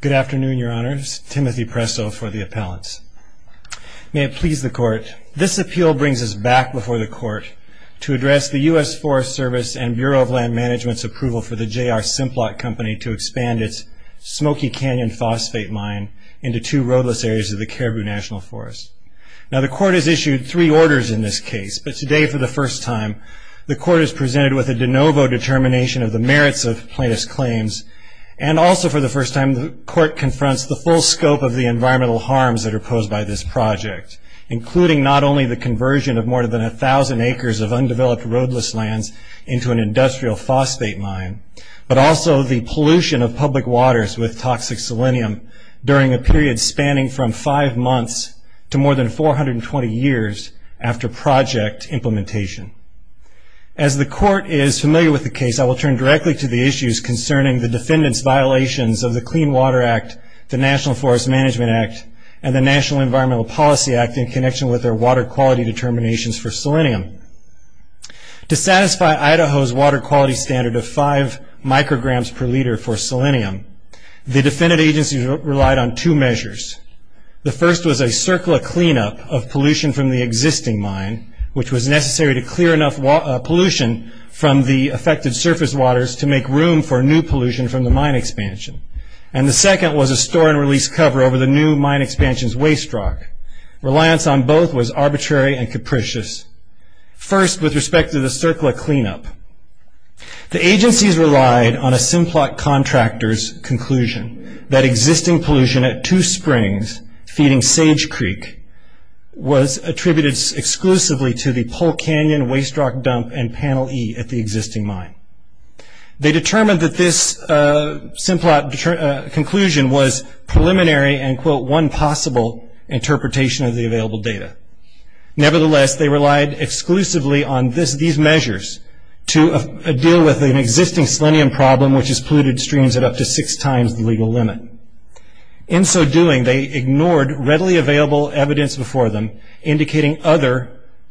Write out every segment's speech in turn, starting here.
Good afternoon, your honors. Timothy Presso for the appellants. May it please the court, this appeal brings us back before the court to address the U.S. Forest Service and Bureau of Land Management's approval for the J.R. Simplot Company to expand its Smoky Canyon phosphate mine into two roadless areas of the Caribou National Forest. Now the court has issued three orders in this case, but today for the first time the court is presented with a de novo determination of the environmental harms that are posed by this project, including not only the conversion of more than a thousand acres of undeveloped roadless lands into an industrial phosphate mine, but also the pollution of public waters with toxic selenium during a period spanning from five months to more than 420 years after project implementation. As the court is familiar with the case, I will turn directly to the issues concerning the defendant's violations of the Clean Water Act, the National Forest Management Act, and the National Environmental Policy Act in connection with their water quality determinations for selenium. To satisfy Idaho's water quality standard of five micrograms per liter for selenium, the defendant agency relied on two measures. The first was a circular cleanup of pollution from the existing mine, which was necessary to clear enough pollution from the affected surface waters to make room for new expansion, and the second was a store and release cover over the new mine expansion's waste rock. Reliance on both was arbitrary and capricious. First, with respect to the circular cleanup, the agencies relied on a Simplot contractor's conclusion that existing pollution at two springs feeding Sage Creek was attributed exclusively to the Pole Canyon waste rock dump and panel E at the existing mine. They determined that this Simplot conclusion was preliminary and, quote, one possible interpretation of the available data. Nevertheless, they relied exclusively on these measures to deal with an existing selenium problem, which has polluted streams at up to six times the legal limit. In so doing, they ignored readily available evidence before them indicating other,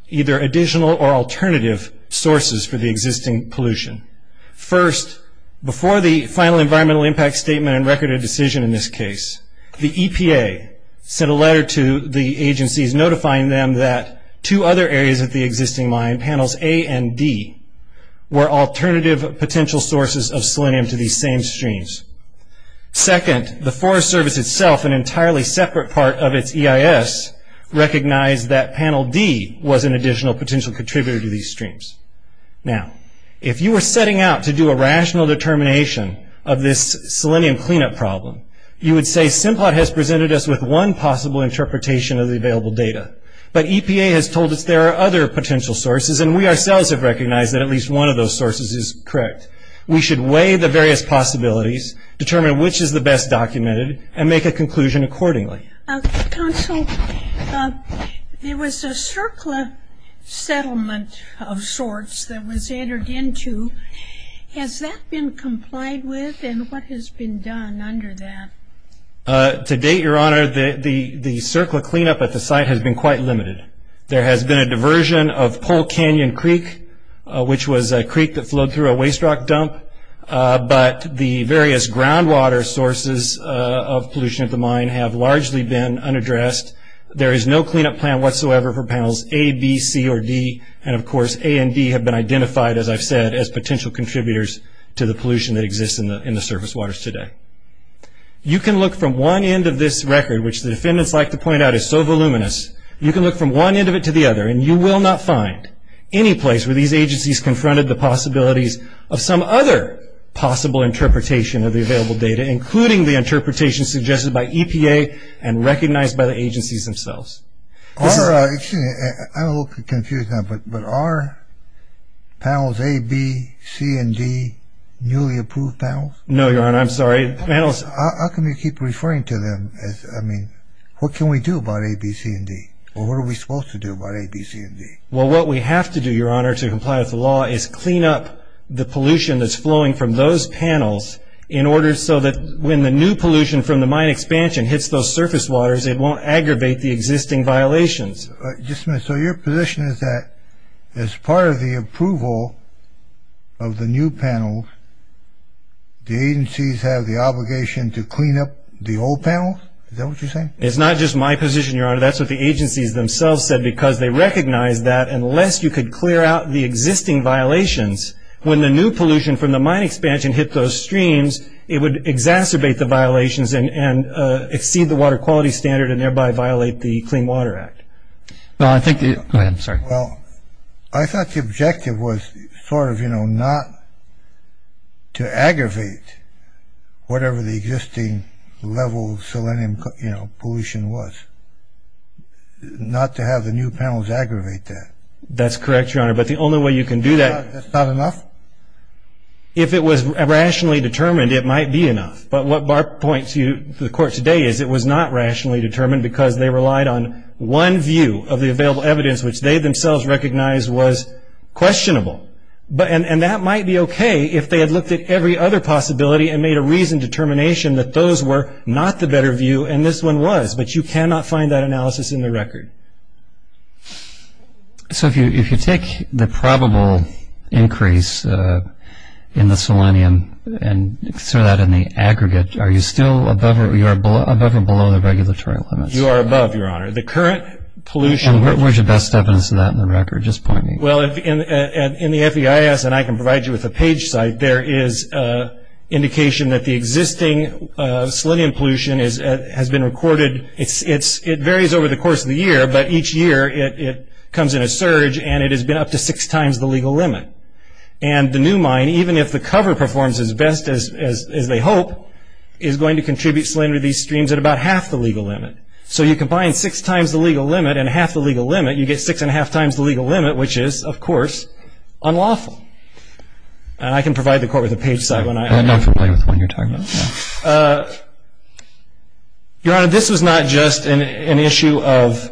either additional or alternative, sources for the existing pollution. First, before the final environmental impact statement and record a decision in this case, the EPA sent a letter to the agencies notifying them that two other areas of the existing mine, panels A and D, were alternative potential sources of selenium to these same streams. Second, the Forest Service itself, an entirely separate part of its EIS, recognized that panel D was an additional potential contributor to these streams. Now, if you were setting out to do a rational determination of this selenium cleanup problem, you would say Simplot has presented us with one possible interpretation of the available data, but EPA has told us there are other potential sources and we ourselves have recognized that at least one of those sources is correct. We should weigh the various possibilities, determine which is the best documented, and make a conclusion accordingly. Counsel, there was a CERCLA settlement of sorts that was entered into. Has that been complied with and what has been done under that? To date, Your Honor, the CERCLA cleanup at the site has been quite limited. There has been a diversion of Pole Canyon Creek, which was a creek that of pollution at the mine have largely been unaddressed. There is no cleanup plan whatsoever for panels A, B, C, or D, and of course A and D have been identified, as I've said, as potential contributors to the pollution that exists in the surface waters today. You can look from one end of this record, which the defendants like to point out is so voluminous, you can look from one end of it to the other and you will not find any place where these agencies confronted the possibilities of some other possible interpretation of the available data, including the interpretation suggested by EPA and recognized by the agencies themselves. Your Honor, I'm a little confused now, but are panels A, B, C, and D newly approved panels? No, Your Honor, I'm sorry. How come you keep referring to them as, I mean, what can we do about A, B, C, and D, or what are we supposed to do about A, B, C, and D? Well, what we have to do, Your Honor, to comply with the law is clean up the surface waters so that when the new pollution from the mine expansion hits those surface waters, it won't aggravate the existing violations. Just a minute. So your position is that as part of the approval of the new panels, the agencies have the obligation to clean up the old panels? Is that what you're saying? It's not just my position, Your Honor. That's what the agencies themselves said because they recognized that unless you could clear out the existing violations, when the new pollution from the mine expansion hit those streams, it would exacerbate the violations and exceed the water quality standard and thereby violate the Clean Water Act. Well, I think the... Go ahead. I'm sorry. Well, I thought the objective was sort of, you know, not to aggravate whatever the existing level of selenium pollution was, not to have the new panels aggravate that. That's correct, Your Honor, but the only way you can do that... That's not enough? If it was rationally determined, it might be enough, but what Barp points to the Court today is it was not rationally determined because they relied on one view of the available evidence, which they themselves recognized was questionable, and that might be okay if they had looked at every other possibility and made a reasoned determination that those were not the better view and this one was, but you cannot find that analysis in the record. So, if you take the probable increase in the selenium and sort of that in the aggregate, are you still above or below the regulatory limits? You are above, Your Honor. The current pollution... And where's your best evidence of that in the record? Just point me. Well, in the FEIS, and I can provide you with a page site, there is indication that the existing selenium pollution has been recorded. It varies over the year, but each year it comes in a surge and it has been up to six times the legal limit, and the new mine, even if the cover performs as best as they hope, is going to contribute selenium to these streams at about half the legal limit. So, you combine six times the legal limit and half the legal limit, you get six and a half times the legal limit, which is, of course, unlawful, and I can provide the Court with a page site when I... I don't know if you'll play with what you're talking about. Your Honor, this was not just an issue of,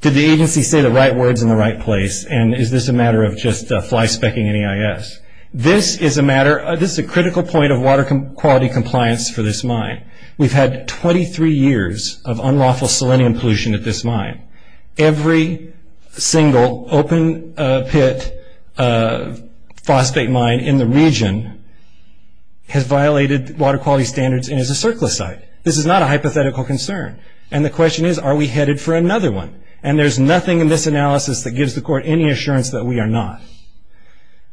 did the agency say the right words in the right place, and is this a matter of just fly-specking an EIS? This is a matter... This is a critical point of water quality compliance for this mine. We've had 23 years of unlawful selenium pollution at this mine. Every single open pit phosphate mine in the region has violated water quality standards and is a circlicite. This is not a hypothetical concern, and the question is, are we headed for another one? And there's nothing in this analysis that gives the Court any assurance that we are not.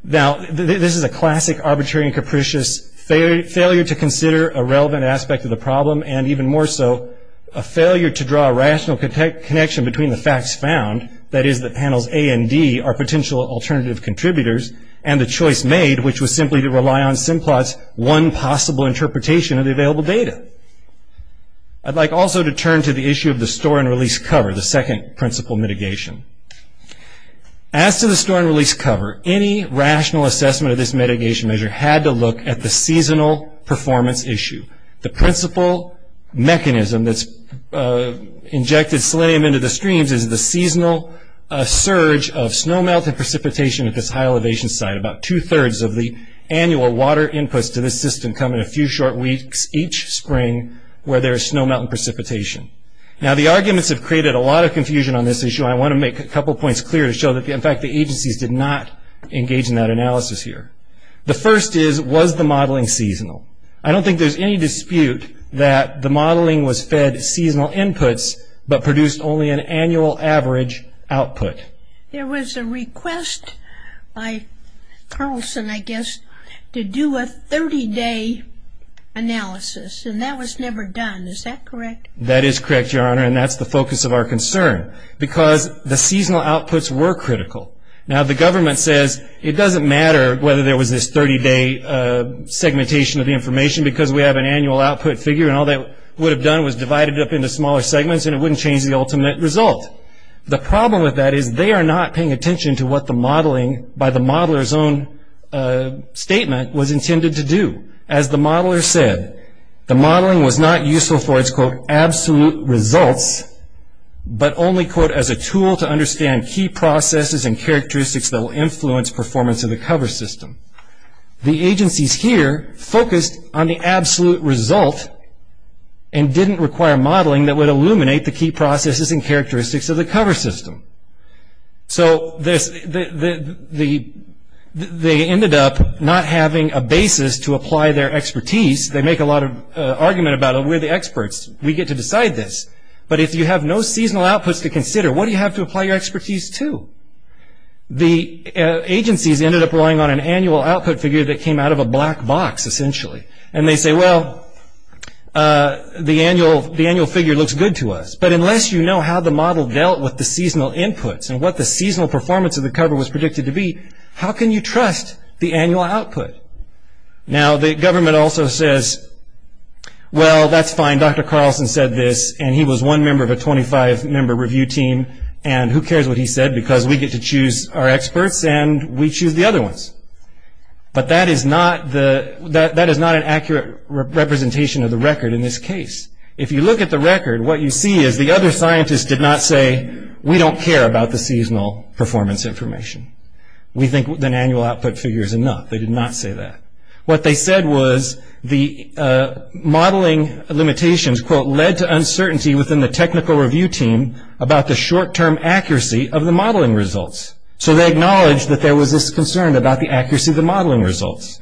Now, this is a classic arbitrary and capricious failure to consider a relevant aspect of the problem, and even more so, a failure to draw a rational connection between the facts found, that is, the panels A and D are potential alternative contributors, and the choice made, which was simply to rely on Simplot's one possible interpretation of the available data. I'd like also to turn to the issue of the store and release cover, the second principle mitigation. As to the store and release cover, any rational assessment of this mitigation measure had to look at the seasonal performance issue. The principle mechanism that's injected selenium into the streams is the seasonal surge of snowmelt and precipitation at this high elevation site. About two-thirds of the annual water inputs to this system come in a few short weeks each spring where there is snowmelt and precipitation. Now the arguments have created a lot of confusion on this issue, and I want to make a couple points clear to show that, in fact, the agencies did not engage in that analysis here. The first is, was the modeling seasonal? I don't think there's any dispute that the modeling was fed seasonal inputs, but produced only an annual average output. There was a request by Carlson, I guess, to do a 30-day analysis, and that was never done. Is that correct? That is correct, Your Honor, and that's the focus of our concern, because the seasonal outputs were critical. Now the government says it doesn't matter whether there was this 30-day segmentation of the information, because we have an annual output figure, and all they would have done was divided it up into smaller segments, and it would have been a more intimate result. The problem with that is they are not paying attention to what the modeling, by the modeler's own statement, was intended to do. As the modeler said, the modeling was not useful for its quote, absolute results, but only quote, as a tool to understand key processes and characteristics that will influence performance of the cover system. The agencies here focused on the absolute result, and didn't require modeling that would illuminate the key processes and characteristics of the cover system. So they ended up not having a basis to apply their expertise. They make a lot of argument about it, we're the experts, we get to decide this, but if you have no seasonal outputs to consider, what do you have to apply your expertise to? The agencies ended up relying on an annual output figure that came out of a black box, essentially. And they say, well, the annual figure looks good to us, but unless you know how the model dealt with the seasonal inputs, and what the seasonal performance of the cover was predicted to be, how can you trust the annual output? Now, the government also says, well, that's fine, Dr. Carlson said this, and he was one member of a 25 member review team, and who cares what he said, because we get to choose our experts, and we choose the other ones. But that is not an accurate representation of the record in this case. If you look at the record, what you see is the other scientists did not say, we don't care about the seasonal performance information. We think an annual output figure is enough. They did not say that. What they said was, the modeling limitations, quote, led to uncertainty within the technical review team about the short-term accuracy of the modeling results. So they acknowledged that there was this concern about the accuracy of the modeling results.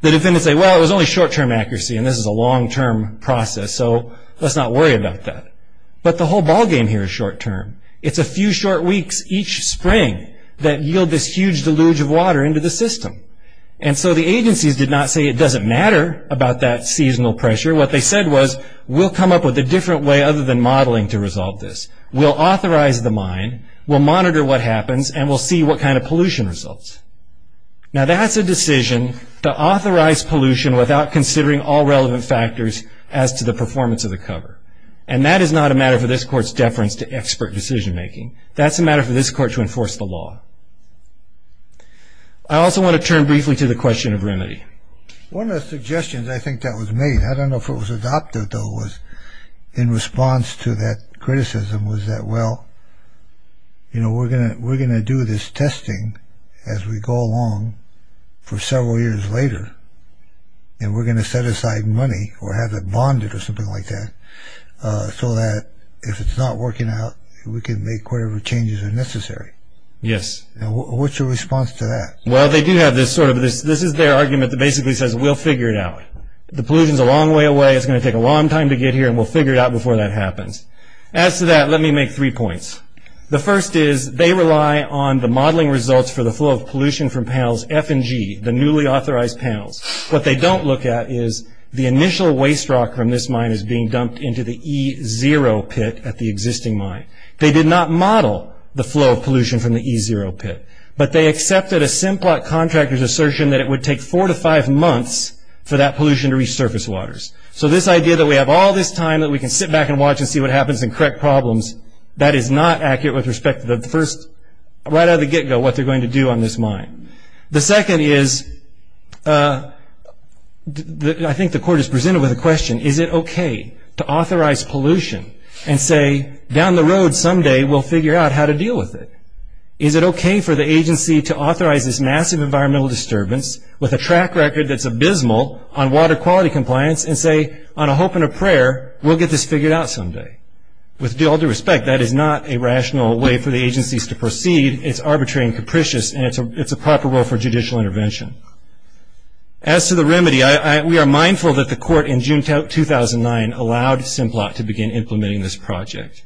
The defendants say, well, it was only short-term accuracy, and this is a long-term process, so let's not worry about that. But the whole ballgame here is short-term. It's a few short weeks each spring that yield this huge deluge of water into the system. And so the agencies did not say it doesn't matter about that seasonal pressure. What they said was, we'll come up with a different way other than modeling to resolve this. We'll authorize the mine, we'll monitor what happens, and we'll see what kind of pollution results. Now that's a decision to authorize pollution without considering all relevant factors as to the performance of the cover. And that is not a matter for this court's deference to expert decision-making. That's a matter for this court to enforce the law. I also want to turn briefly to the question of remedy. One of the suggestions I think that was made, I don't know if it was adopted though, was in response to that criticism, was that well, you know, we're gonna we're gonna do this testing as we go along for several years later, and we're gonna set aside money or have it bonded or something like that, so that if it's not working out, we can make whatever changes are necessary. Yes. And what's your response to that? Well, they do have this sort of, this is their argument that basically says, we'll figure it out. The pollution is a long way away, it's gonna take a long time to get here, and we'll make three points. The first is, they rely on the modeling results for the flow of pollution from panels F and G, the newly authorized panels. What they don't look at is, the initial waste rock from this mine is being dumped into the E0 pit at the existing mine. They did not model the flow of pollution from the E0 pit, but they accepted a Simplot contractor's assertion that it would take four to five months for that pollution to reach surface waters. So this idea that we have all this time that we can sit back and watch and see what happens and correct problems, that is not accurate with respect to the first, right out of the get-go, what they're going to do on this mine. The second is, I think the court is presented with a question, is it okay to authorize pollution and say, down the road someday we'll figure out how to deal with it? Is it okay for the agency to authorize this massive environmental disturbance with a track record that's abysmal on water quality compliance and say, on a hope and a prayer, we'll get this figured out someday? With all due respect, that is not a rational way for the agencies to proceed. It's arbitrary and capricious and it's a proper role for judicial intervention. As to the remedy, we are mindful that the court in June 2009 allowed Simplot to begin implementing this project.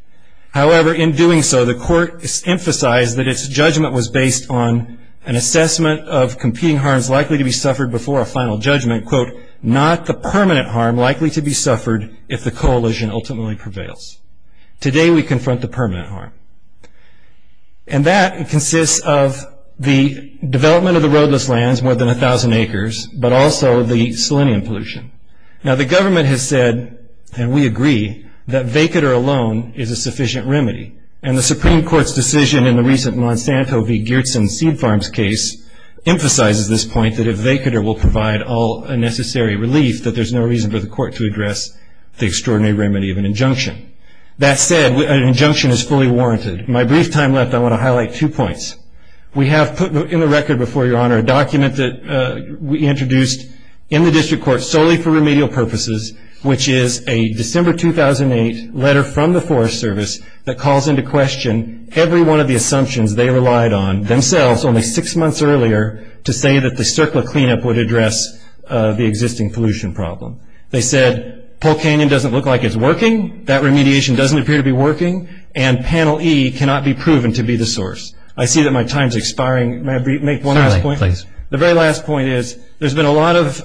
However, in doing so, the court emphasized that its judgment was based on an assessment of competing harms likely to be suffered before a final judgment, quote, not the permanent harm likely to be suffered if the coalition ultimately prevails. Today we confront the permanent harm. And that consists of the development of the roadless lands, more than a thousand acres, but also the selenium pollution. Now the government has said, and we agree, that vacator alone is a sufficient remedy. And the Supreme Court's decision in the recent Monsanto v. Geertsen seed farms case emphasizes this point that if a vacator will provide all necessary relief, that there's no reason for the court to address the extraordinary remedy of an injunction. That said, an injunction is fully warranted. In my brief time left, I want to highlight two points. We have put in the record before Your Honor a document that we introduced in the district court solely for remedial purposes, which is a December 2008 letter from the Forest Service that calls into question every one of the assumptions they relied on, themselves, only six months earlier, to say that the circular cleanup would address the existing pollution problem. They said Polk Canyon doesn't look like it's working, that remediation doesn't appear to be working, and Panel E cannot be proven to be the source. I see that my time is expiring. May I make one last point? Finally, please. The very last point is there's been a lot of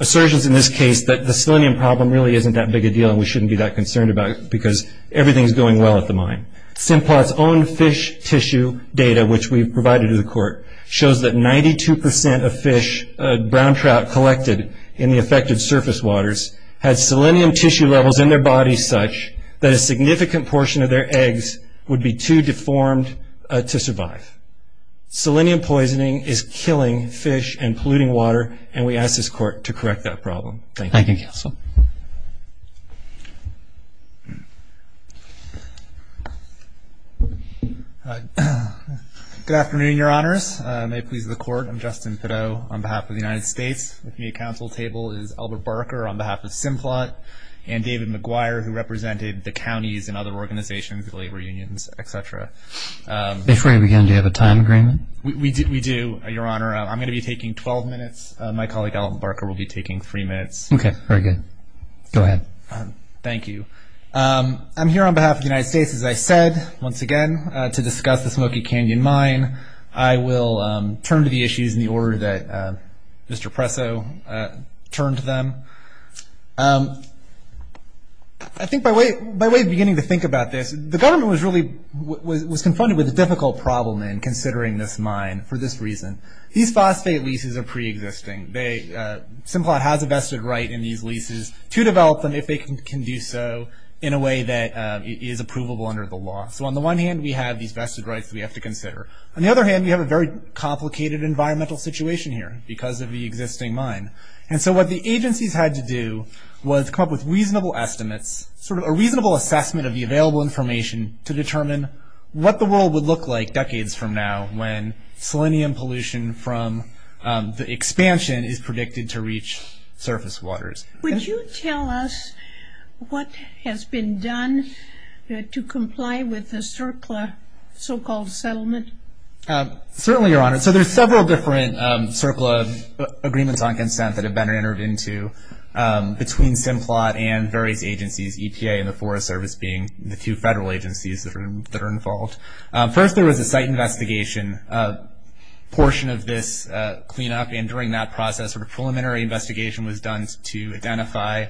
assertions in this case that the selenium problem really isn't that big a deal and we shouldn't be that concerned about it because everything is going well at the mine. Simplot's own fish tissue data, which we've provided to the court, shows that 92% of fish, brown trout collected in the affected surface waters, had selenium tissue levels in their bodies such that a significant portion of their eggs would be too deformed to survive. Selenium poisoning is killing fish and polluting water and we ask this court to correct that problem. Thank you. Thank you, counsel. Good afternoon, your honors. May it please the court, I'm Justin Pittot on behalf of the United States. With me at counsel table is Albert Barker on behalf of Simplot and David McGuire, who represented the counties and other organizations, labor unions, etc. Before we begin, do you have a time agreement? We do, your honor. I'm going to be taking 12 minutes. My colleague, Albert Barker, will be taking three minutes. Okay, very good. Go ahead. Thank you. I'm here on behalf of the United States, as I said, once again, to discuss the Smoky Canyon mine. I will turn to the issues in the order that Mr. Presso turned to them. I think by way of beginning to think about this, the government was really, was confronted with a difficult problem in considering this mine for this reason. These phosphate leases are pre-existing. Simplot has a vested right in these leases to develop them if they can do so in a way that is approvable under the law. So on the one hand, we have these vested rights that we have to consider. On the other hand, we have a very complicated environmental situation here because of the existing mine. And so what the agencies had to do was come up with reasonable estimates, sort of a reasonable assessment of the available information to determine what the world would look like decades from now when selenium pollution from the expansion is Would you tell us what has been done to comply with the CERCLA so-called settlement? Certainly, Your Honor. So there's several different CERCLA agreements on consent that have been entered into between Simplot and various agencies, EPA and the Forest Service being the two federal agencies that are involved. First, there was a site investigation portion of this cleanup. And during that process, sort of preliminary investigation was done to identify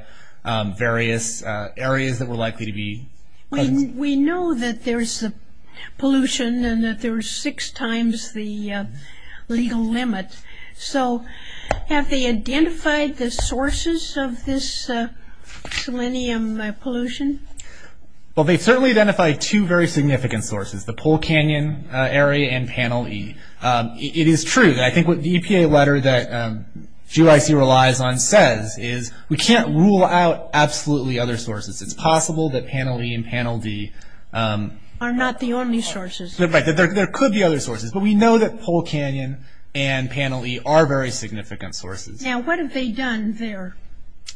various areas that were likely to be We know that there's pollution and that there's six times the legal limit. So have they identified the sources of this selenium pollution? Well, they've certainly identified two very significant sources, the Pole Canyon area and Panel E. It is true. I think what the EPA letter that GYC relies on says is we can't rule out absolutely other sources. It's possible that Panel E and Panel D Are not the only sources. Right. There could be other sources. But we know that Pole Canyon and Panel E are very significant sources. Now, what have they done there?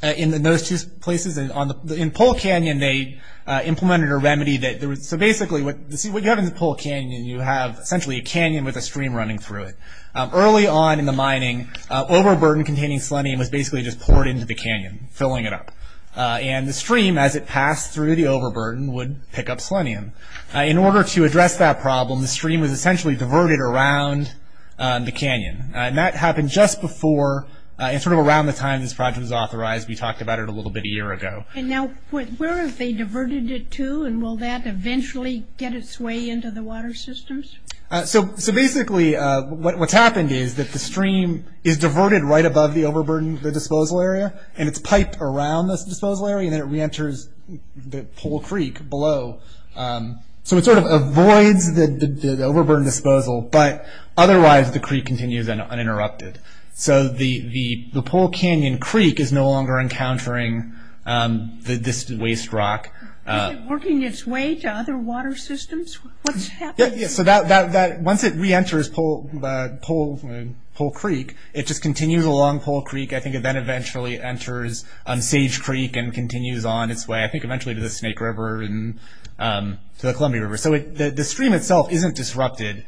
In those two places, in Pole Canyon, they implemented a remedy. So basically, what you have in Pole Canyon, you have essentially a canyon with a stream running through it. Early on in the mining, overburden containing selenium was basically just poured into the canyon, filling it up. And the stream, as it passed through the overburden, would pick up selenium. In order to address that problem, the stream was essentially diverted around the canyon. And that happened just before and sort of around the time this project was authorized. We talked about it a little bit a year ago. And now, where have they diverted it to? And will that eventually get its way into the water systems? So basically, what's happened is that the stream is diverted right above the overburden disposal area. And it's piped around this disposal area. And then it reenters the Pole Creek below. So it sort of avoids the overburden disposal. But otherwise, the creek continues uninterrupted. So the Pole Canyon Creek is no longer encountering this waste rock. Is it working its way to other water systems? What's happening? So once it reenters Pole Creek, it just continues along Pole Creek. I think it then eventually enters Sage Creek and continues on its way, I think, eventually to the Snake River and to the Columbia River. So the stream itself isn't disrupted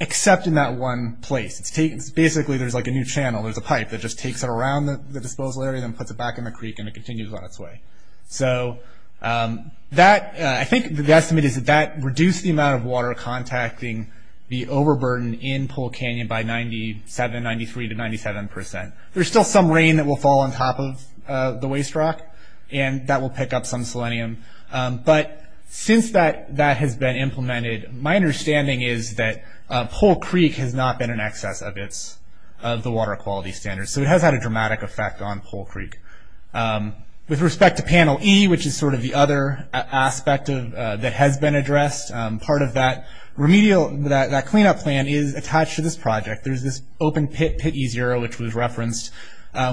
except in that one place. Basically, there's like a new channel. There's a pipe that just takes it around the disposal area and puts it back in the creek. And it continues on its way. So I think the estimate is that that reduced the amount of water contacting the overburden in Pole Canyon by 97, 93 to 97 percent. There's still some rain that will fall on top of the waste rock. And that will pick up some selenium. But since that has been implemented, my understanding is that Pole Creek has not been in excess of the water quality standards. So it has had a dramatic effect on Pole Creek. With respect to Panel E, which is sort of the other aspect that has been addressed, part of that remedial, that cleanup plan is attached to this project. There's this open pit, Pit E0, which was referenced,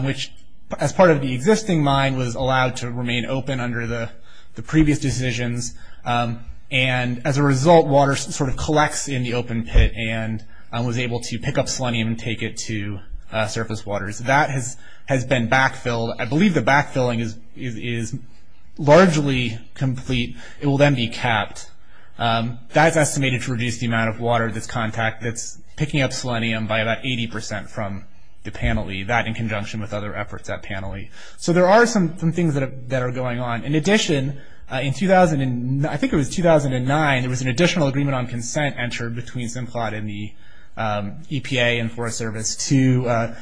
which as part of the existing mine was allowed to remain open under the previous decisions. And as a result, water sort of collects in the open pit and was able to pick up selenium and take it to surface waters. That has been backfilled. I believe the backfilling is largely complete. It will then be capped. That's estimated to reduce the amount of water that's picking up selenium by about 80 percent from the Panel E. That in conjunction with other efforts at Panel E. So there are some things that are going on. In addition, I think it was 2009, there was an additional agreement on consent entered between Simplot and the EPA and Forest Service to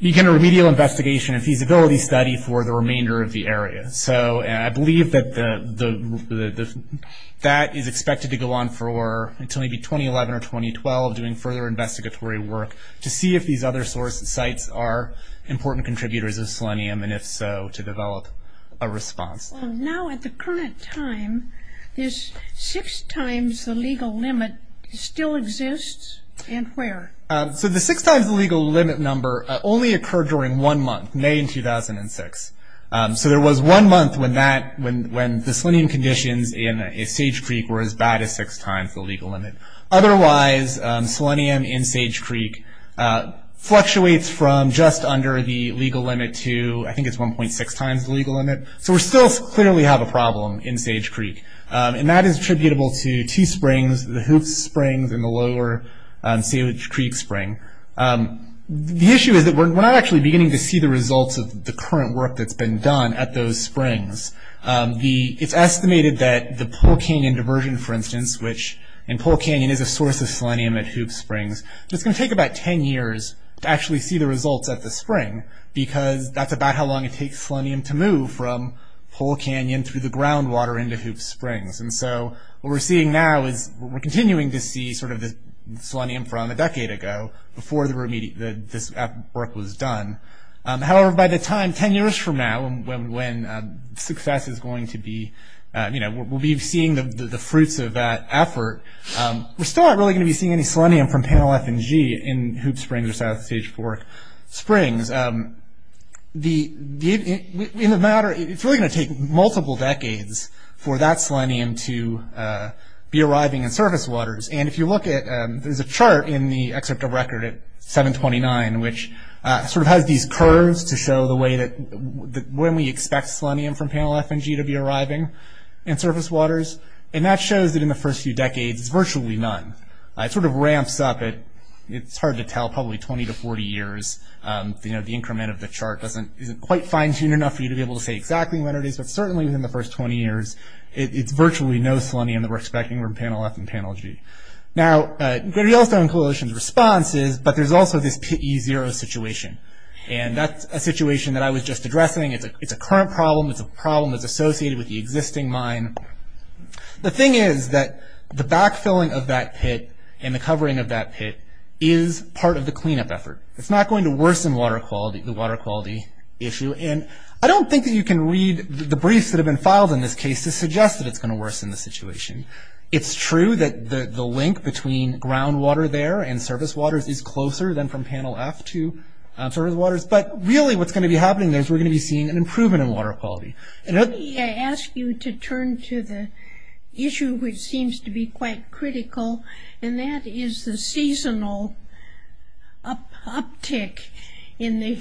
begin a remedial investigation and feasibility study for the remainder of the area. So I believe that is expected to go on until maybe 2011 or 2012, doing further investigatory work to see if these other sites are important contributors of selenium, and if so, to develop a response. Now at the current time, is six times the legal limit still exists, and where? So the six times the legal limit number only occurred during one month, May 2006. So there was one month when the selenium conditions in Sage Creek were as bad as six times the legal limit. Otherwise, selenium in Sage Creek fluctuates from just under the legal limit to, I think it's 1.6 times the legal limit. So we still clearly have a problem in Sage Creek, and that is attributable to Tee Springs, the Hoops Springs, and the lower Sage Creek Spring. The issue is that we're not actually beginning to see the results of the current work that's been done at those springs. It's estimated that the Pole Canyon diversion, for instance, which, and Pole Canyon is a source of selenium at Hoops Springs, but it's going to take about 10 years to actually see the results at the spring, because that's about how long it takes selenium to move from Pole Canyon through the groundwater into Hoops Springs. And so what we're seeing now is we're continuing to see sort of the selenium from a decade ago before this work was done. However, by the time, 10 years from now, when success is going to be, you know, we'll be seeing the fruits of that effort, we're still not really going to be seeing any selenium from Panel F and G in Hoops Springs or south of Sage Fork Springs. In a matter, it's really going to take multiple decades for that selenium to be arriving in surface waters. And if you look at, there's a chart in the excerpt of record at 729, which sort of has these curves to show the way that, when we expect selenium from Panel F and G to be arriving in surface waters. And that shows that in the first few decades, it's virtually none. It sort of ramps up. It's hard to tell, probably 20 to 40 years. You know, the increment of the chart isn't quite fine-tuned enough for you to be able to say exactly when it is, but certainly within the first 20 years, it's virtually no selenium that we're expecting from Panel F and Panel G. Now, the Yellowstone Coalition's response is, but there's also this Pit E0 situation. And that's a situation that I was just addressing. It's a current problem. It's a problem that's associated with the existing mine. The thing is that the backfilling of that pit and the covering of that pit is part of the cleanup effort. It's not going to worsen water quality, the water quality issue. And I don't think that you can read the briefs that have been filed in this case to suggest that it's going to worsen the situation. It's true that the link between groundwater there and surface waters is closer than from Panel F to surface waters. But really what's going to be happening there is we're going to be seeing an improvement in water quality. Let me ask you to turn to the issue which seems to be quite critical, and that is the seasonal uptick in the,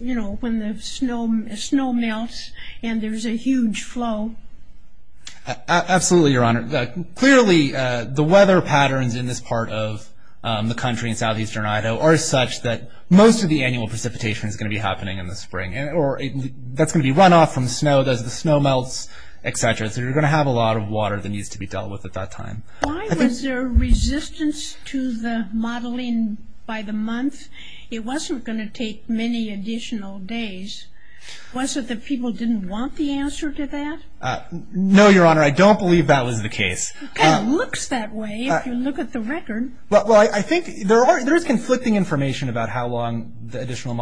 you know, when the snow melts and there's a huge flow. Absolutely, Your Honor. Clearly, the weather patterns in this part of the country, in southeastern Idaho, are such that most of the annual precipitation is going to be happening in the spring. That's going to be runoff from snow as the snow melts, et cetera. So you're going to have a lot of water that needs to be dealt with at that time. Why was there resistance to the modeling by the month? It wasn't going to take many additional days. Was it that people didn't want the answer to that? No, Your Honor, I don't believe that was the case. It kind of looks that way if you look at the record. Well, I think there is conflicting information about how long the additional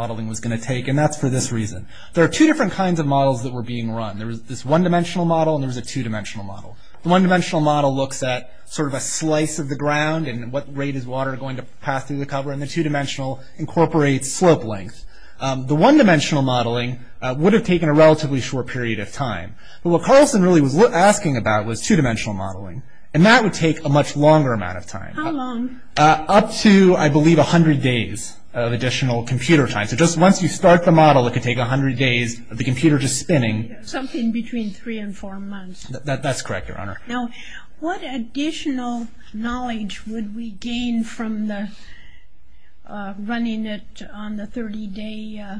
There are two different kinds of models that were being run. There was this one-dimensional model and there was a two-dimensional model. The one-dimensional model looks at sort of a slice of the ground and what rate is water going to pass through the cover, and the two-dimensional incorporates slope length. The one-dimensional modeling would have taken a relatively short period of time. But what Carlson really was asking about was two-dimensional modeling, and that would take a much longer amount of time. How long? Up to, I believe, 100 days of additional computer time. So just once you start the model, it could take 100 days of the computer just spinning. Something between three and four months. That's correct, Your Honor. Now, what additional knowledge would we gain from running it on the 30-day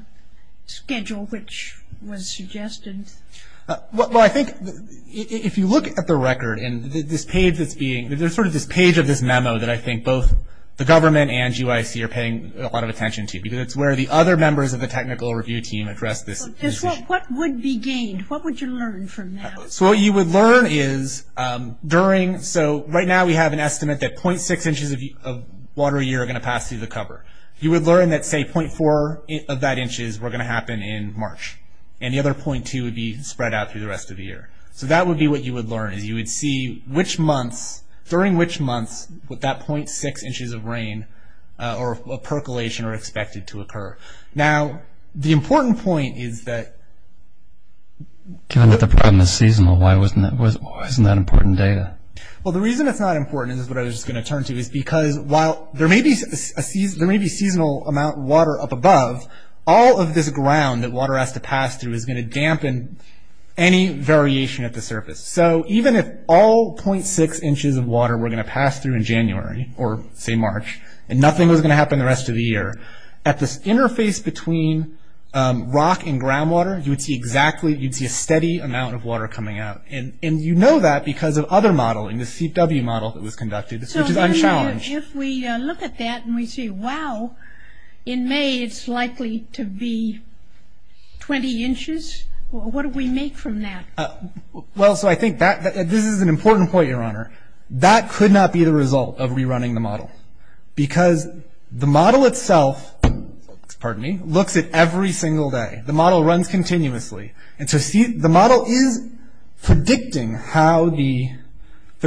schedule, which was suggested? Well, I think if you look at the record, and there's sort of this page of this memo that I think both the government and GYC are paying a lot of attention to because it's where the other members of the technical review team address this issue. What would be gained? What would you learn from that? So what you would learn is during, so right now we have an estimate that .6 inches of water a year are going to pass through the cover. You would learn that, say, .4 of that inches were going to happen in March, and the other .2 would be spread out through the rest of the year. So that would be what you would learn is you would see which months, during which months would that .6 inches of rain or percolation are expected to occur. Now, the important point is that… Given that the problem is seasonal, why isn't that important data? Well, the reason it's not important is what I was just going to turn to, is because while there may be seasonal amount of water up above, all of this ground that water has to pass through is going to dampen any variation at the surface. So even if all .6 inches of water were going to pass through in January, or say March, and nothing was going to happen the rest of the year, at this interface between rock and groundwater, you would see exactly, you'd see a steady amount of water coming out. And you know that because of other modeling, the CW model that was conducted, which is unchallenged. So if we look at that and we see, wow, in May it's likely to be 20 inches, what do we make from that? Well, so I think that, this is an important point, Your Honor. That could not be the result of rerunning the model. Because the model itself, pardon me, looks at every single day. The model runs continuously. And so the model is predicting how the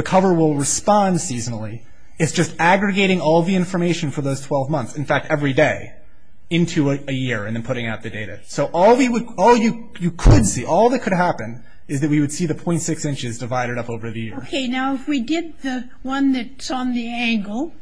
cover will respond seasonally. It's just aggregating all the information for those 12 months, in fact every day, into a year and then putting out the data. So all you could see, all that could happen, is that we would see the .6 inches divided up over the year. Okay, now if we did the one that's on the angle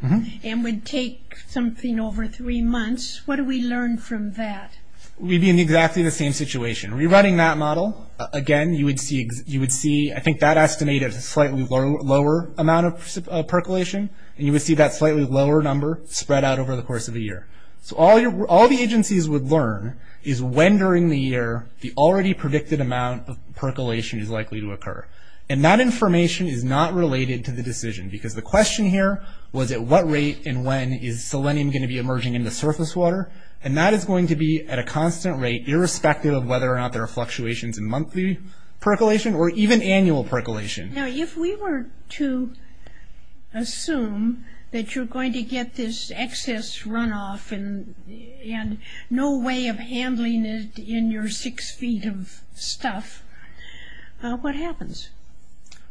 and would take something over three months, what do we learn from that? We'd be in exactly the same situation. Rerunning that model, again, you would see, I think that estimated a slightly lower amount of percolation. And you would see that slightly lower number spread out over the course of a year. So all the agencies would learn is when during the year the already predicted amount of percolation is likely to occur. And that information is not related to the decision. Because the question here was at what rate and when is selenium going to be emerging in the surface water? And that is going to be at a constant rate, irrespective of whether or not there are fluctuations in monthly percolation or even annual percolation. Now, if we were to assume that you're going to get this excess runoff and no way of handling it in your six feet of stuff, what happens?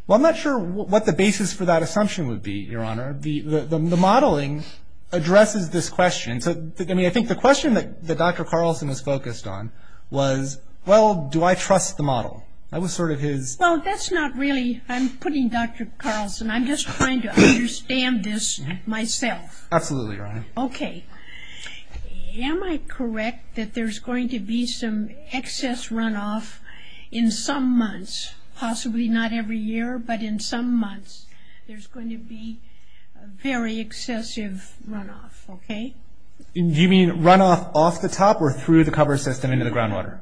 Well, I'm not sure what the basis for that assumption would be, Your Honor. The modeling addresses this question. I mean, I think the question that Dr. Carlson was focused on was, well, do I trust the model? That was sort of his... Well, that's not really, I'm putting Dr. Carlson, I'm just trying to understand this myself. Absolutely, Your Honor. Okay. Am I correct that there's going to be some excess runoff in some months? Possibly not every year, but in some months there's going to be very excessive runoff, okay? Do you mean runoff off the top or through the cover system into the groundwater?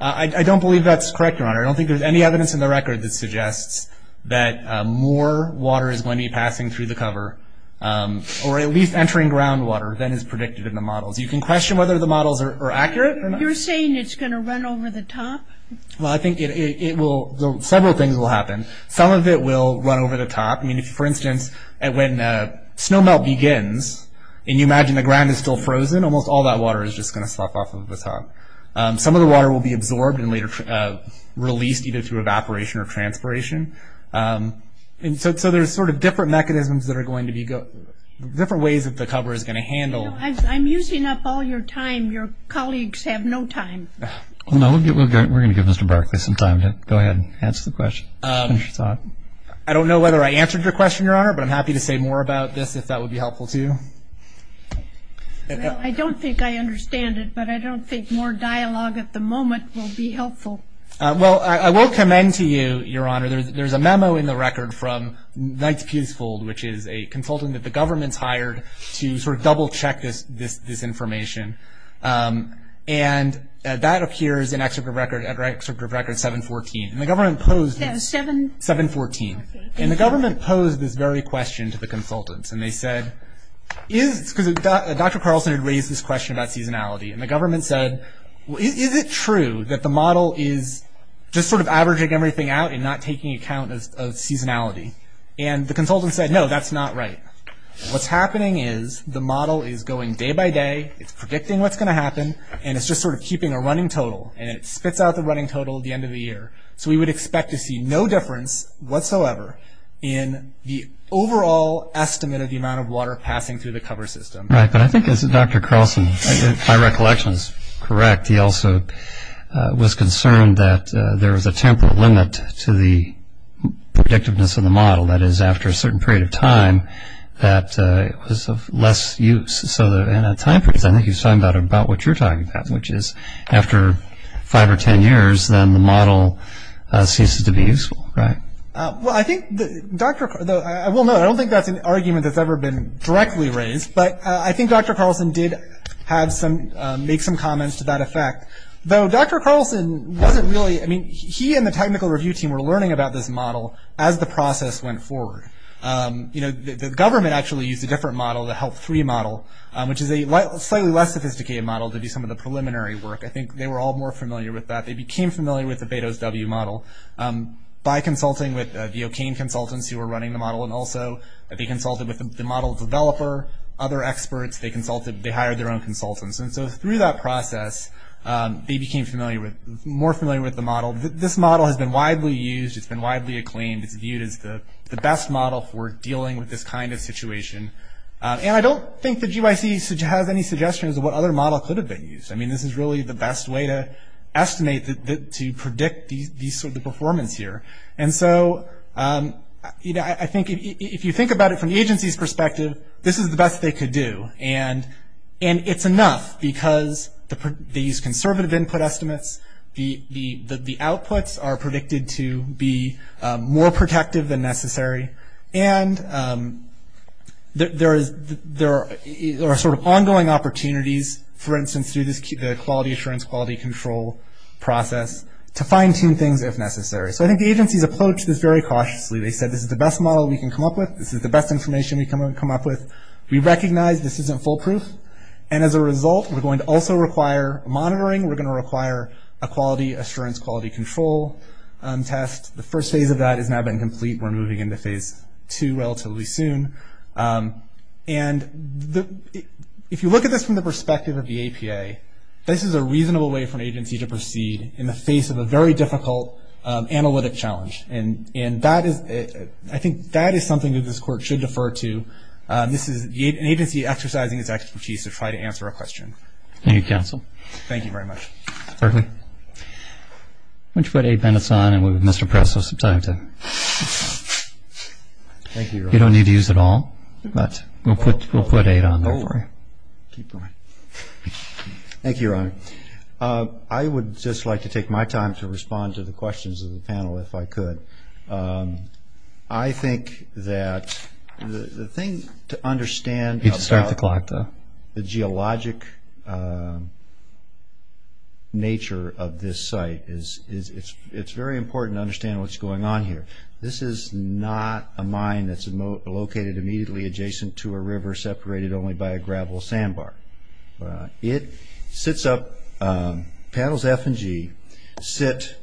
I don't believe that's correct, Your Honor. I don't think there's any evidence in the record that suggests that more water is going to be passing through the cover or at least entering groundwater than is predicted in the models. You can question whether the models are accurate or not. You're saying it's going to run over the top? Well, I think several things will happen. Some of it will run over the top. I mean, for instance, when snow melt begins and you imagine the ground is still frozen, almost all that water is just going to slough off of the top. Some of the water will be absorbed and later released either through evaporation or transpiration. And so there's sort of different mechanisms that are going to be going to go, different ways that the cover is going to handle. I'm using up all your time. Your colleagues have no time. We're going to give Mr. Barclay some time to go ahead and answer the question and finish his thought. I don't know whether I answered your question, Your Honor, but I'm happy to say more about this if that would be helpful to you. Well, I don't think I understand it, but I don't think more dialogue at the moment will be helpful. Well, I will commend to you, Your Honor, there's a memo in the record from Knight's Peasfold, which is a consultant that the government's hired to sort of double-check this information. And that appears in Excerpt of Record 714. And the government posed this very question to the consultants. And they said, because Dr. Carlson had raised this question about seasonality. And the government said, well, is it true that the model is just sort of averaging everything out and not taking account of seasonality? And the consultant said, no, that's not right. What's happening is the model is going day by day, it's predicting what's going to happen, and it's just sort of keeping a running total. And it spits out the running total at the end of the year. So we would expect to see no difference whatsoever in the overall estimate of the amount of water passing through the cover system. Right. But I think as Dr. Carlson, my recollection is correct, he also was concerned that there was a temporal limit to the predictiveness of the model. That is, after a certain period of time, that it was of less use. So in that time period, I think he was talking about what you're talking about, which is after five or ten years, then the model ceases to be useful, right? Well, I think Dr. – I will note, I don't think that's an argument that's ever been directly raised, but I think Dr. Carlson did have some – make some comments to that effect. Though Dr. Carlson wasn't really – I mean, he and the technical review team were learning about this model as the process went forward. You know, the government actually used a different model, the HELP-3 model, which is a slightly less sophisticated model to do some of the preliminary work. I think they were all more familiar with that. They became familiar with the Betos-W model by consulting with the O'Kane consultants who were running the model, and also they consulted with the model developer, other experts. They consulted – they hired their own consultants. And so through that process, they became familiar with – more familiar with the model. This model has been widely used. It's been widely acclaimed. It's viewed as the best model for dealing with this kind of situation. And I don't think the GYC has any suggestions of what other models could have been used. I mean, this is really the best way to estimate – to predict the performance here. And so, you know, I think if you think about it from the agency's perspective, this is the best they could do. And it's enough because these conservative input estimates, the outputs are predicted to be more protective than necessary. And there is – there are sort of ongoing opportunities, for instance, through the quality assurance, quality control process, to fine-tune things if necessary. So I think the agencies approached this very cautiously. They said this is the best model we can come up with. This is the best information we can come up with. We recognize this isn't foolproof. And as a result, we're going to also require monitoring. We're going to require a quality assurance, quality control test. The first phase of that has now been complete. We're moving into phase two relatively soon. And if you look at this from the perspective of the APA, this is a reasonable way for an agency to proceed in the face of a very difficult analytic challenge. And that is – I think that is something that this Court should defer to. This is an agency exercising its expertise to try to answer a question. Thank you, counsel. Thank you very much. Berkley. Why don't you put Abe Bennis on and we'll move to Mr. Pressel. Thank you, Your Honor. You don't need to use it all, but we'll put Abe on there for you. Keep going. Thank you, Your Honor. I would just like to take my time to respond to the questions of the panel if I could. I think that the thing to understand about the geologic nature of this site is it's very important to understand what's going on here. This is not a mine that's located immediately adjacent to a river separated only by a gravel sandbar. It sits up – panels F and G sit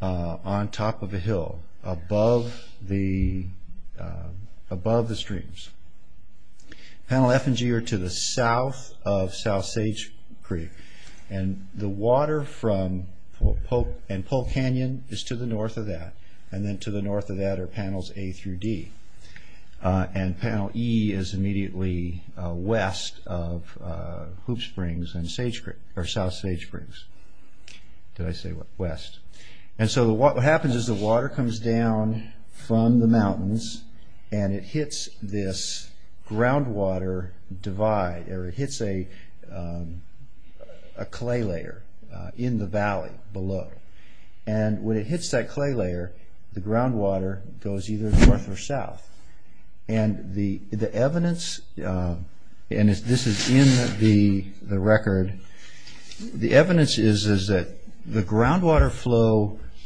on top of a hill above the streams. Panel F and G are to the south of South Sage Creek, and the water from Polk Canyon is to the north of that, and then to the north of that are panels A through D. Panel E is immediately west of Hoop Springs and South Sage Springs. Did I say west? What happens is the water comes down from the mountains and it hits this groundwater divide, or it hits a clay layer in the valley below. When it hits that clay layer, the groundwater goes either north or south. This is in the record. The evidence is that the groundwater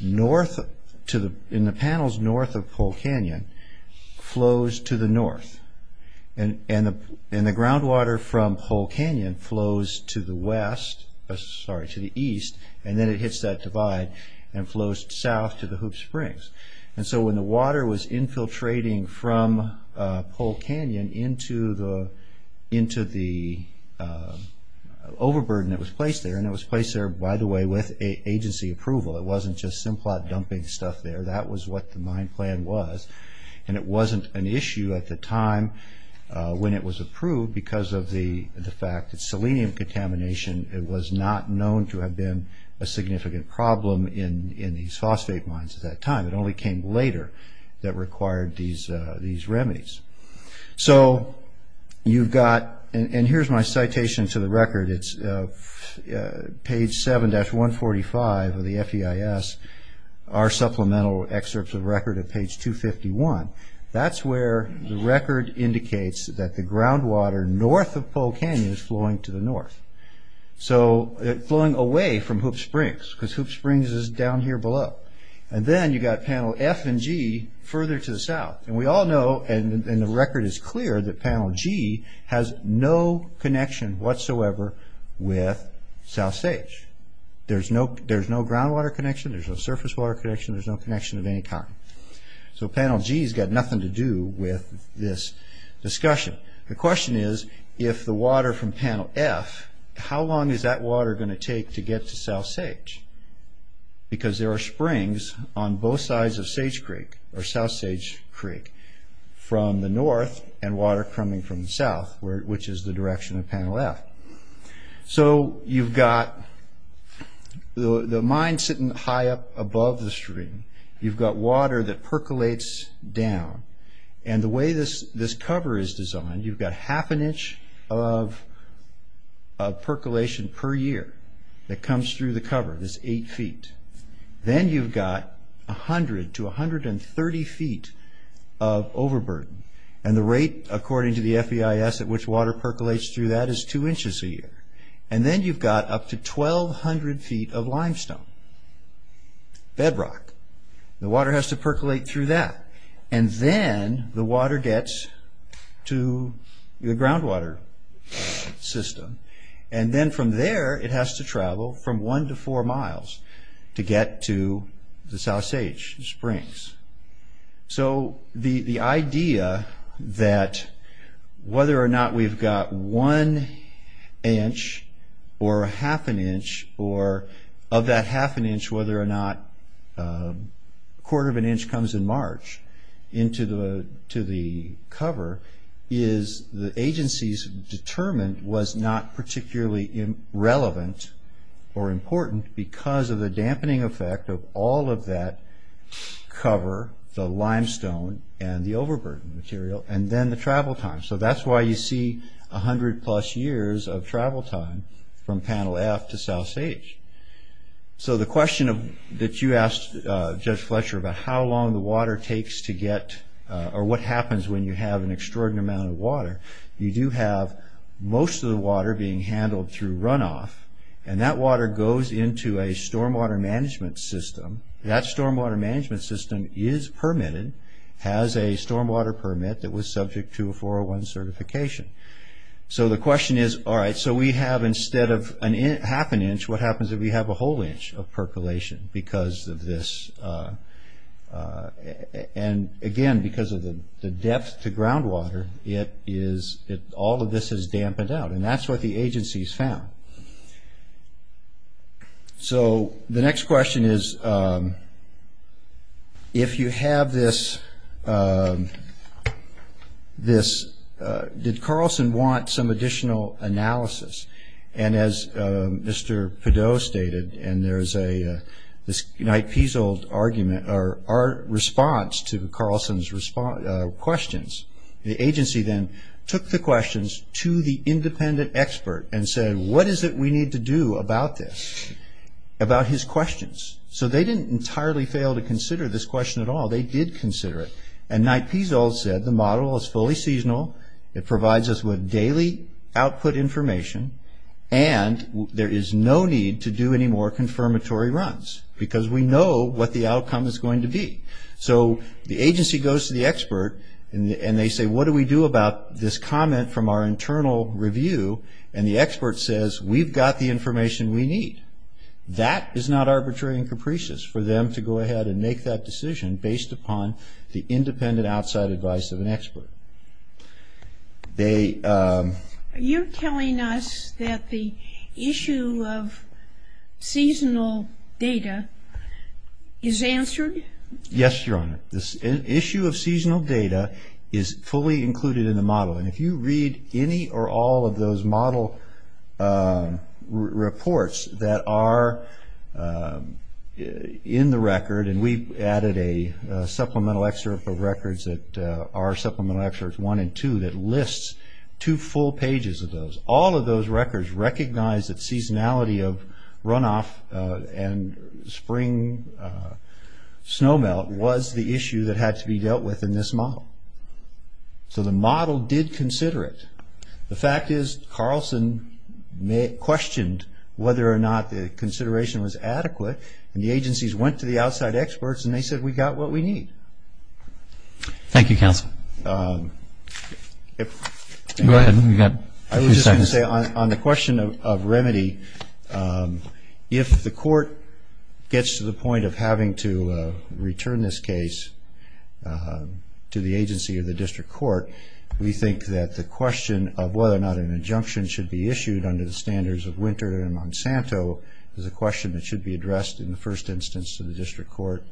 in the panels north of Polk Canyon flows to the north, and the groundwater from Polk Canyon flows to the east, and then it hits that divide and flows south to the Hoop Springs. When the water was infiltrating from Polk Canyon into the overburden that was placed there, and it was placed there, by the way, with agency approval. It wasn't just Simplot dumping stuff there. That was what the mine plan was, and it wasn't an issue at the time when it was approved because of the fact that selenium contamination was not known to have been a significant problem in these phosphate mines at that time. It only came later that required these remedies. Here's my citation to the record. It's page 7-145 of the FEIS, our supplemental excerpts of record at page 251. That's where the record indicates that the groundwater north of Polk Canyon is flowing to the north. It's flowing away from Hoop Springs because Hoop Springs is down here below. Then you've got panel F and G further to the south. We all know, and the record is clear, that panel G has no connection whatsoever with South Sage. There's no groundwater connection. There's no surface water connection. There's no connection of any kind. So panel G has got nothing to do with this discussion. The question is, if the water from panel F, how long is that water going to take to get to South Sage? Because there are springs on both sides of Sage Creek, or South Sage Creek, from the north and water coming from the south, which is the direction of panel F. So you've got the mine sitting high up above the stream. You've got water that percolates down, and the way this cover is designed, you've got half an inch of percolation per year that comes through the cover. That's 8 feet. Then you've got 100 to 130 feet of overburden, and the rate according to the FEIS at which water percolates through that is 2 inches a year. And then you've got up to 1,200 feet of limestone, bedrock. The water has to percolate through that, and then the water gets to the groundwater system, and then from there it has to travel from 1 to 4 miles to get to the South Sage Springs. So the idea that whether or not we've got one inch or half an inch, or of that half an inch, whether or not a quarter of an inch comes in March into the cover, is the agency's determined was not particularly relevant or important because of the dampening effect of all of that cover, the limestone, and the overburden material, and then the travel time. So that's why you see 100 plus years of travel time from Panel F to South Sage. So the question that you asked Judge Fletcher about how long the water takes to get, or what happens when you have an extraordinary amount of water, you do have most of the water being handled through runoff, and that water goes into a stormwater management system. That stormwater management system is permitted, has a stormwater permit that was subject to a 401 certification. So the question is, all right, so we have instead of half an inch, what happens if we have a whole inch of percolation because of this? And again, because of the depth to groundwater, all of this is dampened out, and that's what the agency's found. So the next question is, if you have this, did Carlson want some additional analysis? And as Mr. Pideaux stated, and there's this Knight-Peasold argument, our response to Carlson's questions, the agency then took the questions to the independent expert and said, what is it we need to do about this, about his questions? So they didn't entirely fail to consider this question at all. They did consider it, and Knight-Peasold said the model is fully seasonal, it provides us with daily output information, and there is no need to do any more confirmatory runs because we know what the outcome is going to be. So the agency goes to the expert and they say, what do we do about this comment from our internal review? And the expert says, we've got the information we need. That is not arbitrary and capricious for them to go ahead and make that decision based upon the independent outside advice of an expert. Are you telling us that the issue of seasonal data is answered? Yes, Your Honor. The issue of seasonal data is fully included in the model, and if you read any or all of those model reports that are in the record, and we've added a supplemental excerpt of records that are supplemental excerpts one and two that lists two full pages of those. All of those records recognize that seasonality of runoff and spring snow melt was the issue that had to be dealt with in this model. So the model did consider it. The fact is Carlson questioned whether or not the consideration was adequate, and the agencies went to the outside experts and they said, we've got what we need. Thank you, counsel. Go ahead, you've got a few seconds. I was just going to say on the question of remedy, if the court gets to the point of having to return this case to the agency or the district court, we think that the question of whether or not an injunction should be issued under the standards of Winter and Monsanto is a question that should be addressed in the first instance to the district court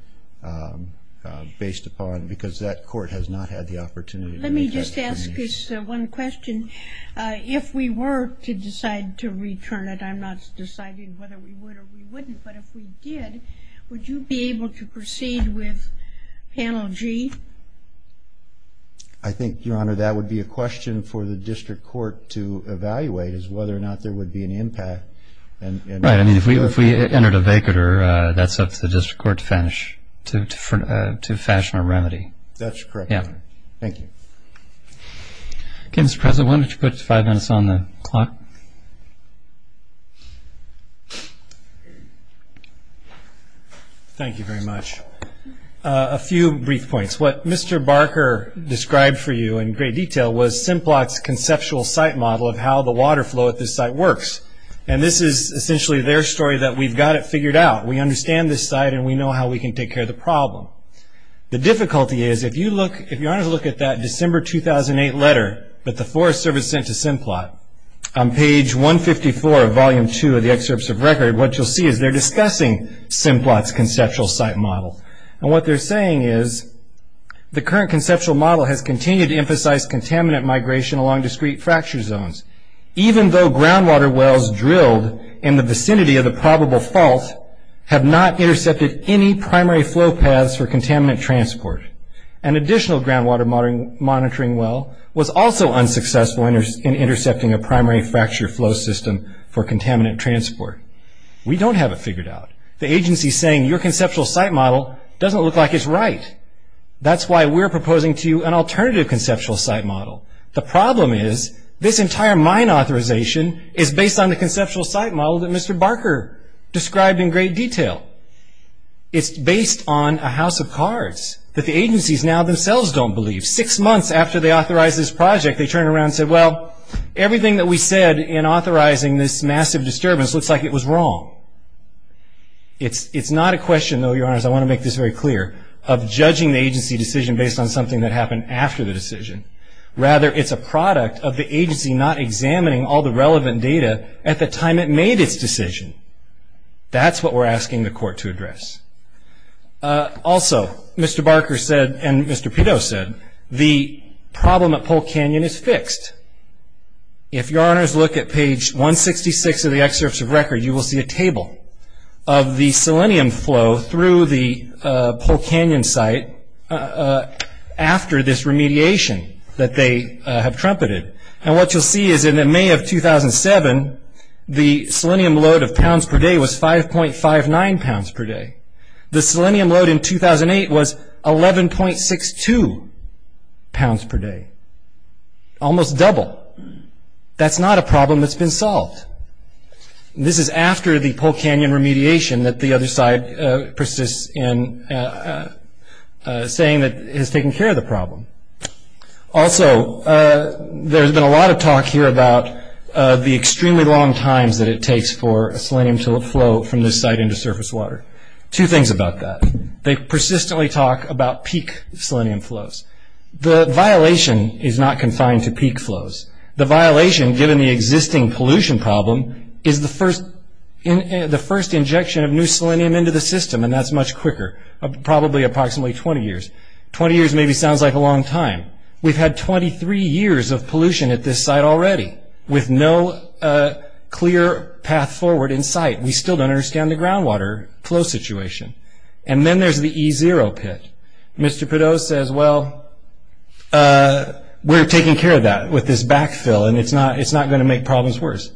based upon because that court has not had the opportunity. Let me just ask this one question. If we were to decide to return it, I'm not deciding whether we would or we wouldn't, but if we did, would you be able to proceed with Panel G? I think, Your Honor, that would be a question for the district court to evaluate as to whether or not there would be an impact. If we entered a vacater, that's up to the district court to fashion a remedy. That's correct, Your Honor. Thank you. Okay, Mr. President, why don't you put five minutes on the clock. Thank you very much. A few brief points. What Mr. Barker described for you in great detail was Simplot's conceptual site model of how the water flow at this site works. This is essentially their story that we've got it figured out. We understand this site and we know how we can take care of the problem. The difficulty is, if you look at that December 2008 letter that the Forest Service sent to Simplot, on page 154 of volume 2 of the excerpts of record, what you'll see is they're discussing Simplot's conceptual site model. What they're saying is, the current conceptual model has continued to emphasize contaminant migration along discrete fracture zones. Even though groundwater wells drilled in the vicinity of the probable fault have not intercepted any primary flow paths for contaminant transport, an additional groundwater monitoring well was also unsuccessful in intercepting a primary fracture flow system for contaminant transport. We don't have it figured out. The agency is saying, your conceptual site model doesn't look like it's right. That's why we're proposing to you an alternative conceptual site model. The problem is, this entire mine authorization is based on the conceptual site model that Mr. Barker described in great detail. It's based on a house of cards that the agencies now themselves don't believe. Six months after they authorized this project, they turned around and said, well, everything that we said in authorizing this massive disturbance looks like it was wrong. It's not a question, though, your honors, I want to make this very clear, of judging the agency decision based on something that happened after the decision. Rather, it's a product of the agency not examining all the relevant data at the time it made its decision. That's what we're asking the court to address. Also, Mr. Barker said, and Mr. Pito said, the problem at Pole Canyon is fixed. If your honors look at page 166 of the excerpts of record, you will see a table of the selenium flow through the Pole Canyon site after this remediation that they have trumpeted. And what you'll see is in May of 2007, the selenium load of pounds per day was 5.59 pounds per day. The selenium load in 2008 was 11.62 pounds per day, almost double. That's not a problem that's been solved. This is after the Pole Canyon remediation that the other side persists in saying that has taken care of the problem. Also, there's been a lot of talk here about the extremely long times that it takes for selenium to flow from this site into surface water. Two things about that. They persistently talk about peak selenium flows. The violation is not confined to peak flows. The violation, given the existing pollution problem, is the first injection of new selenium into the system, and that's much quicker, probably approximately 20 years. 20 years maybe sounds like a long time. We've had 23 years of pollution at this site already with no clear path forward in sight. We still don't understand the groundwater flow situation. And then there's the E0 pit. Mr. Pideaux says, well, we're taking care of that with this backfill, and it's not going to make problems worse.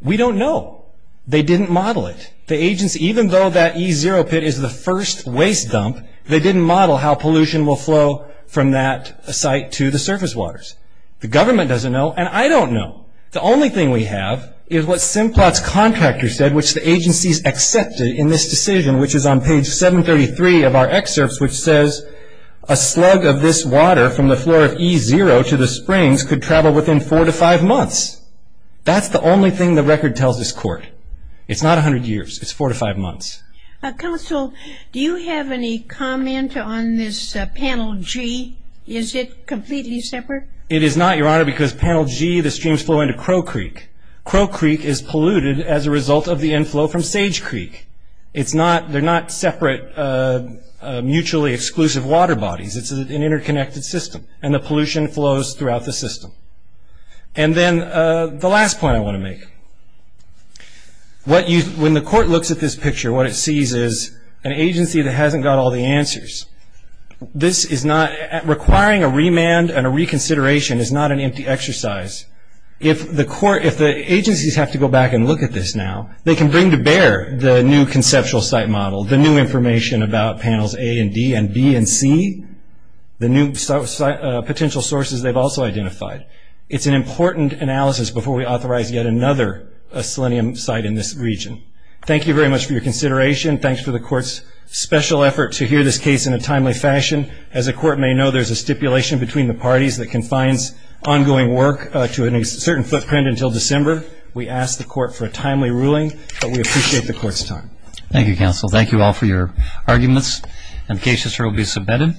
We don't know. They didn't model it. Even though that E0 pit is the first waste dump, they didn't model how pollution will flow from that site to the surface waters. The government doesn't know, and I don't know. The only thing we have is what Simplot's contractor said, which the agencies accepted in this decision, which is on page 733 of our excerpts, which says a slug of this water from the floor of E0 to the springs could travel within four to five months. That's the only thing the record tells this court. It's not 100 years. It's four to five months. Counsel, do you have any comment on this panel G? Is it completely separate? It is not, Your Honor, because panel G, the streams flow into Crow Creek. Crow Creek is polluted as a result of the inflow from Sage Creek. They're not separate, mutually exclusive water bodies. It's an interconnected system, and the pollution flows throughout the system. And then the last point I want to make. When the court looks at this picture, what it sees is an agency that hasn't got all the answers. Requiring a remand and a reconsideration is not an empty exercise. If the agencies have to go back and look at this now, they can bring to bear the new conceptual site model, the new information about panels A and D and B and C, the new potential sources they've also identified. It's an important analysis before we authorize yet another selenium site in this region. Thank you very much for your consideration. Thanks for the court's special effort to hear this case in a timely fashion. As the court may know, there's a stipulation between the parties that confines ongoing work to a certain footprint until December. We ask the court for a timely ruling, but we appreciate the court's time. Thank you, counsel. Thank you all for your arguments. The case is hereby submitted.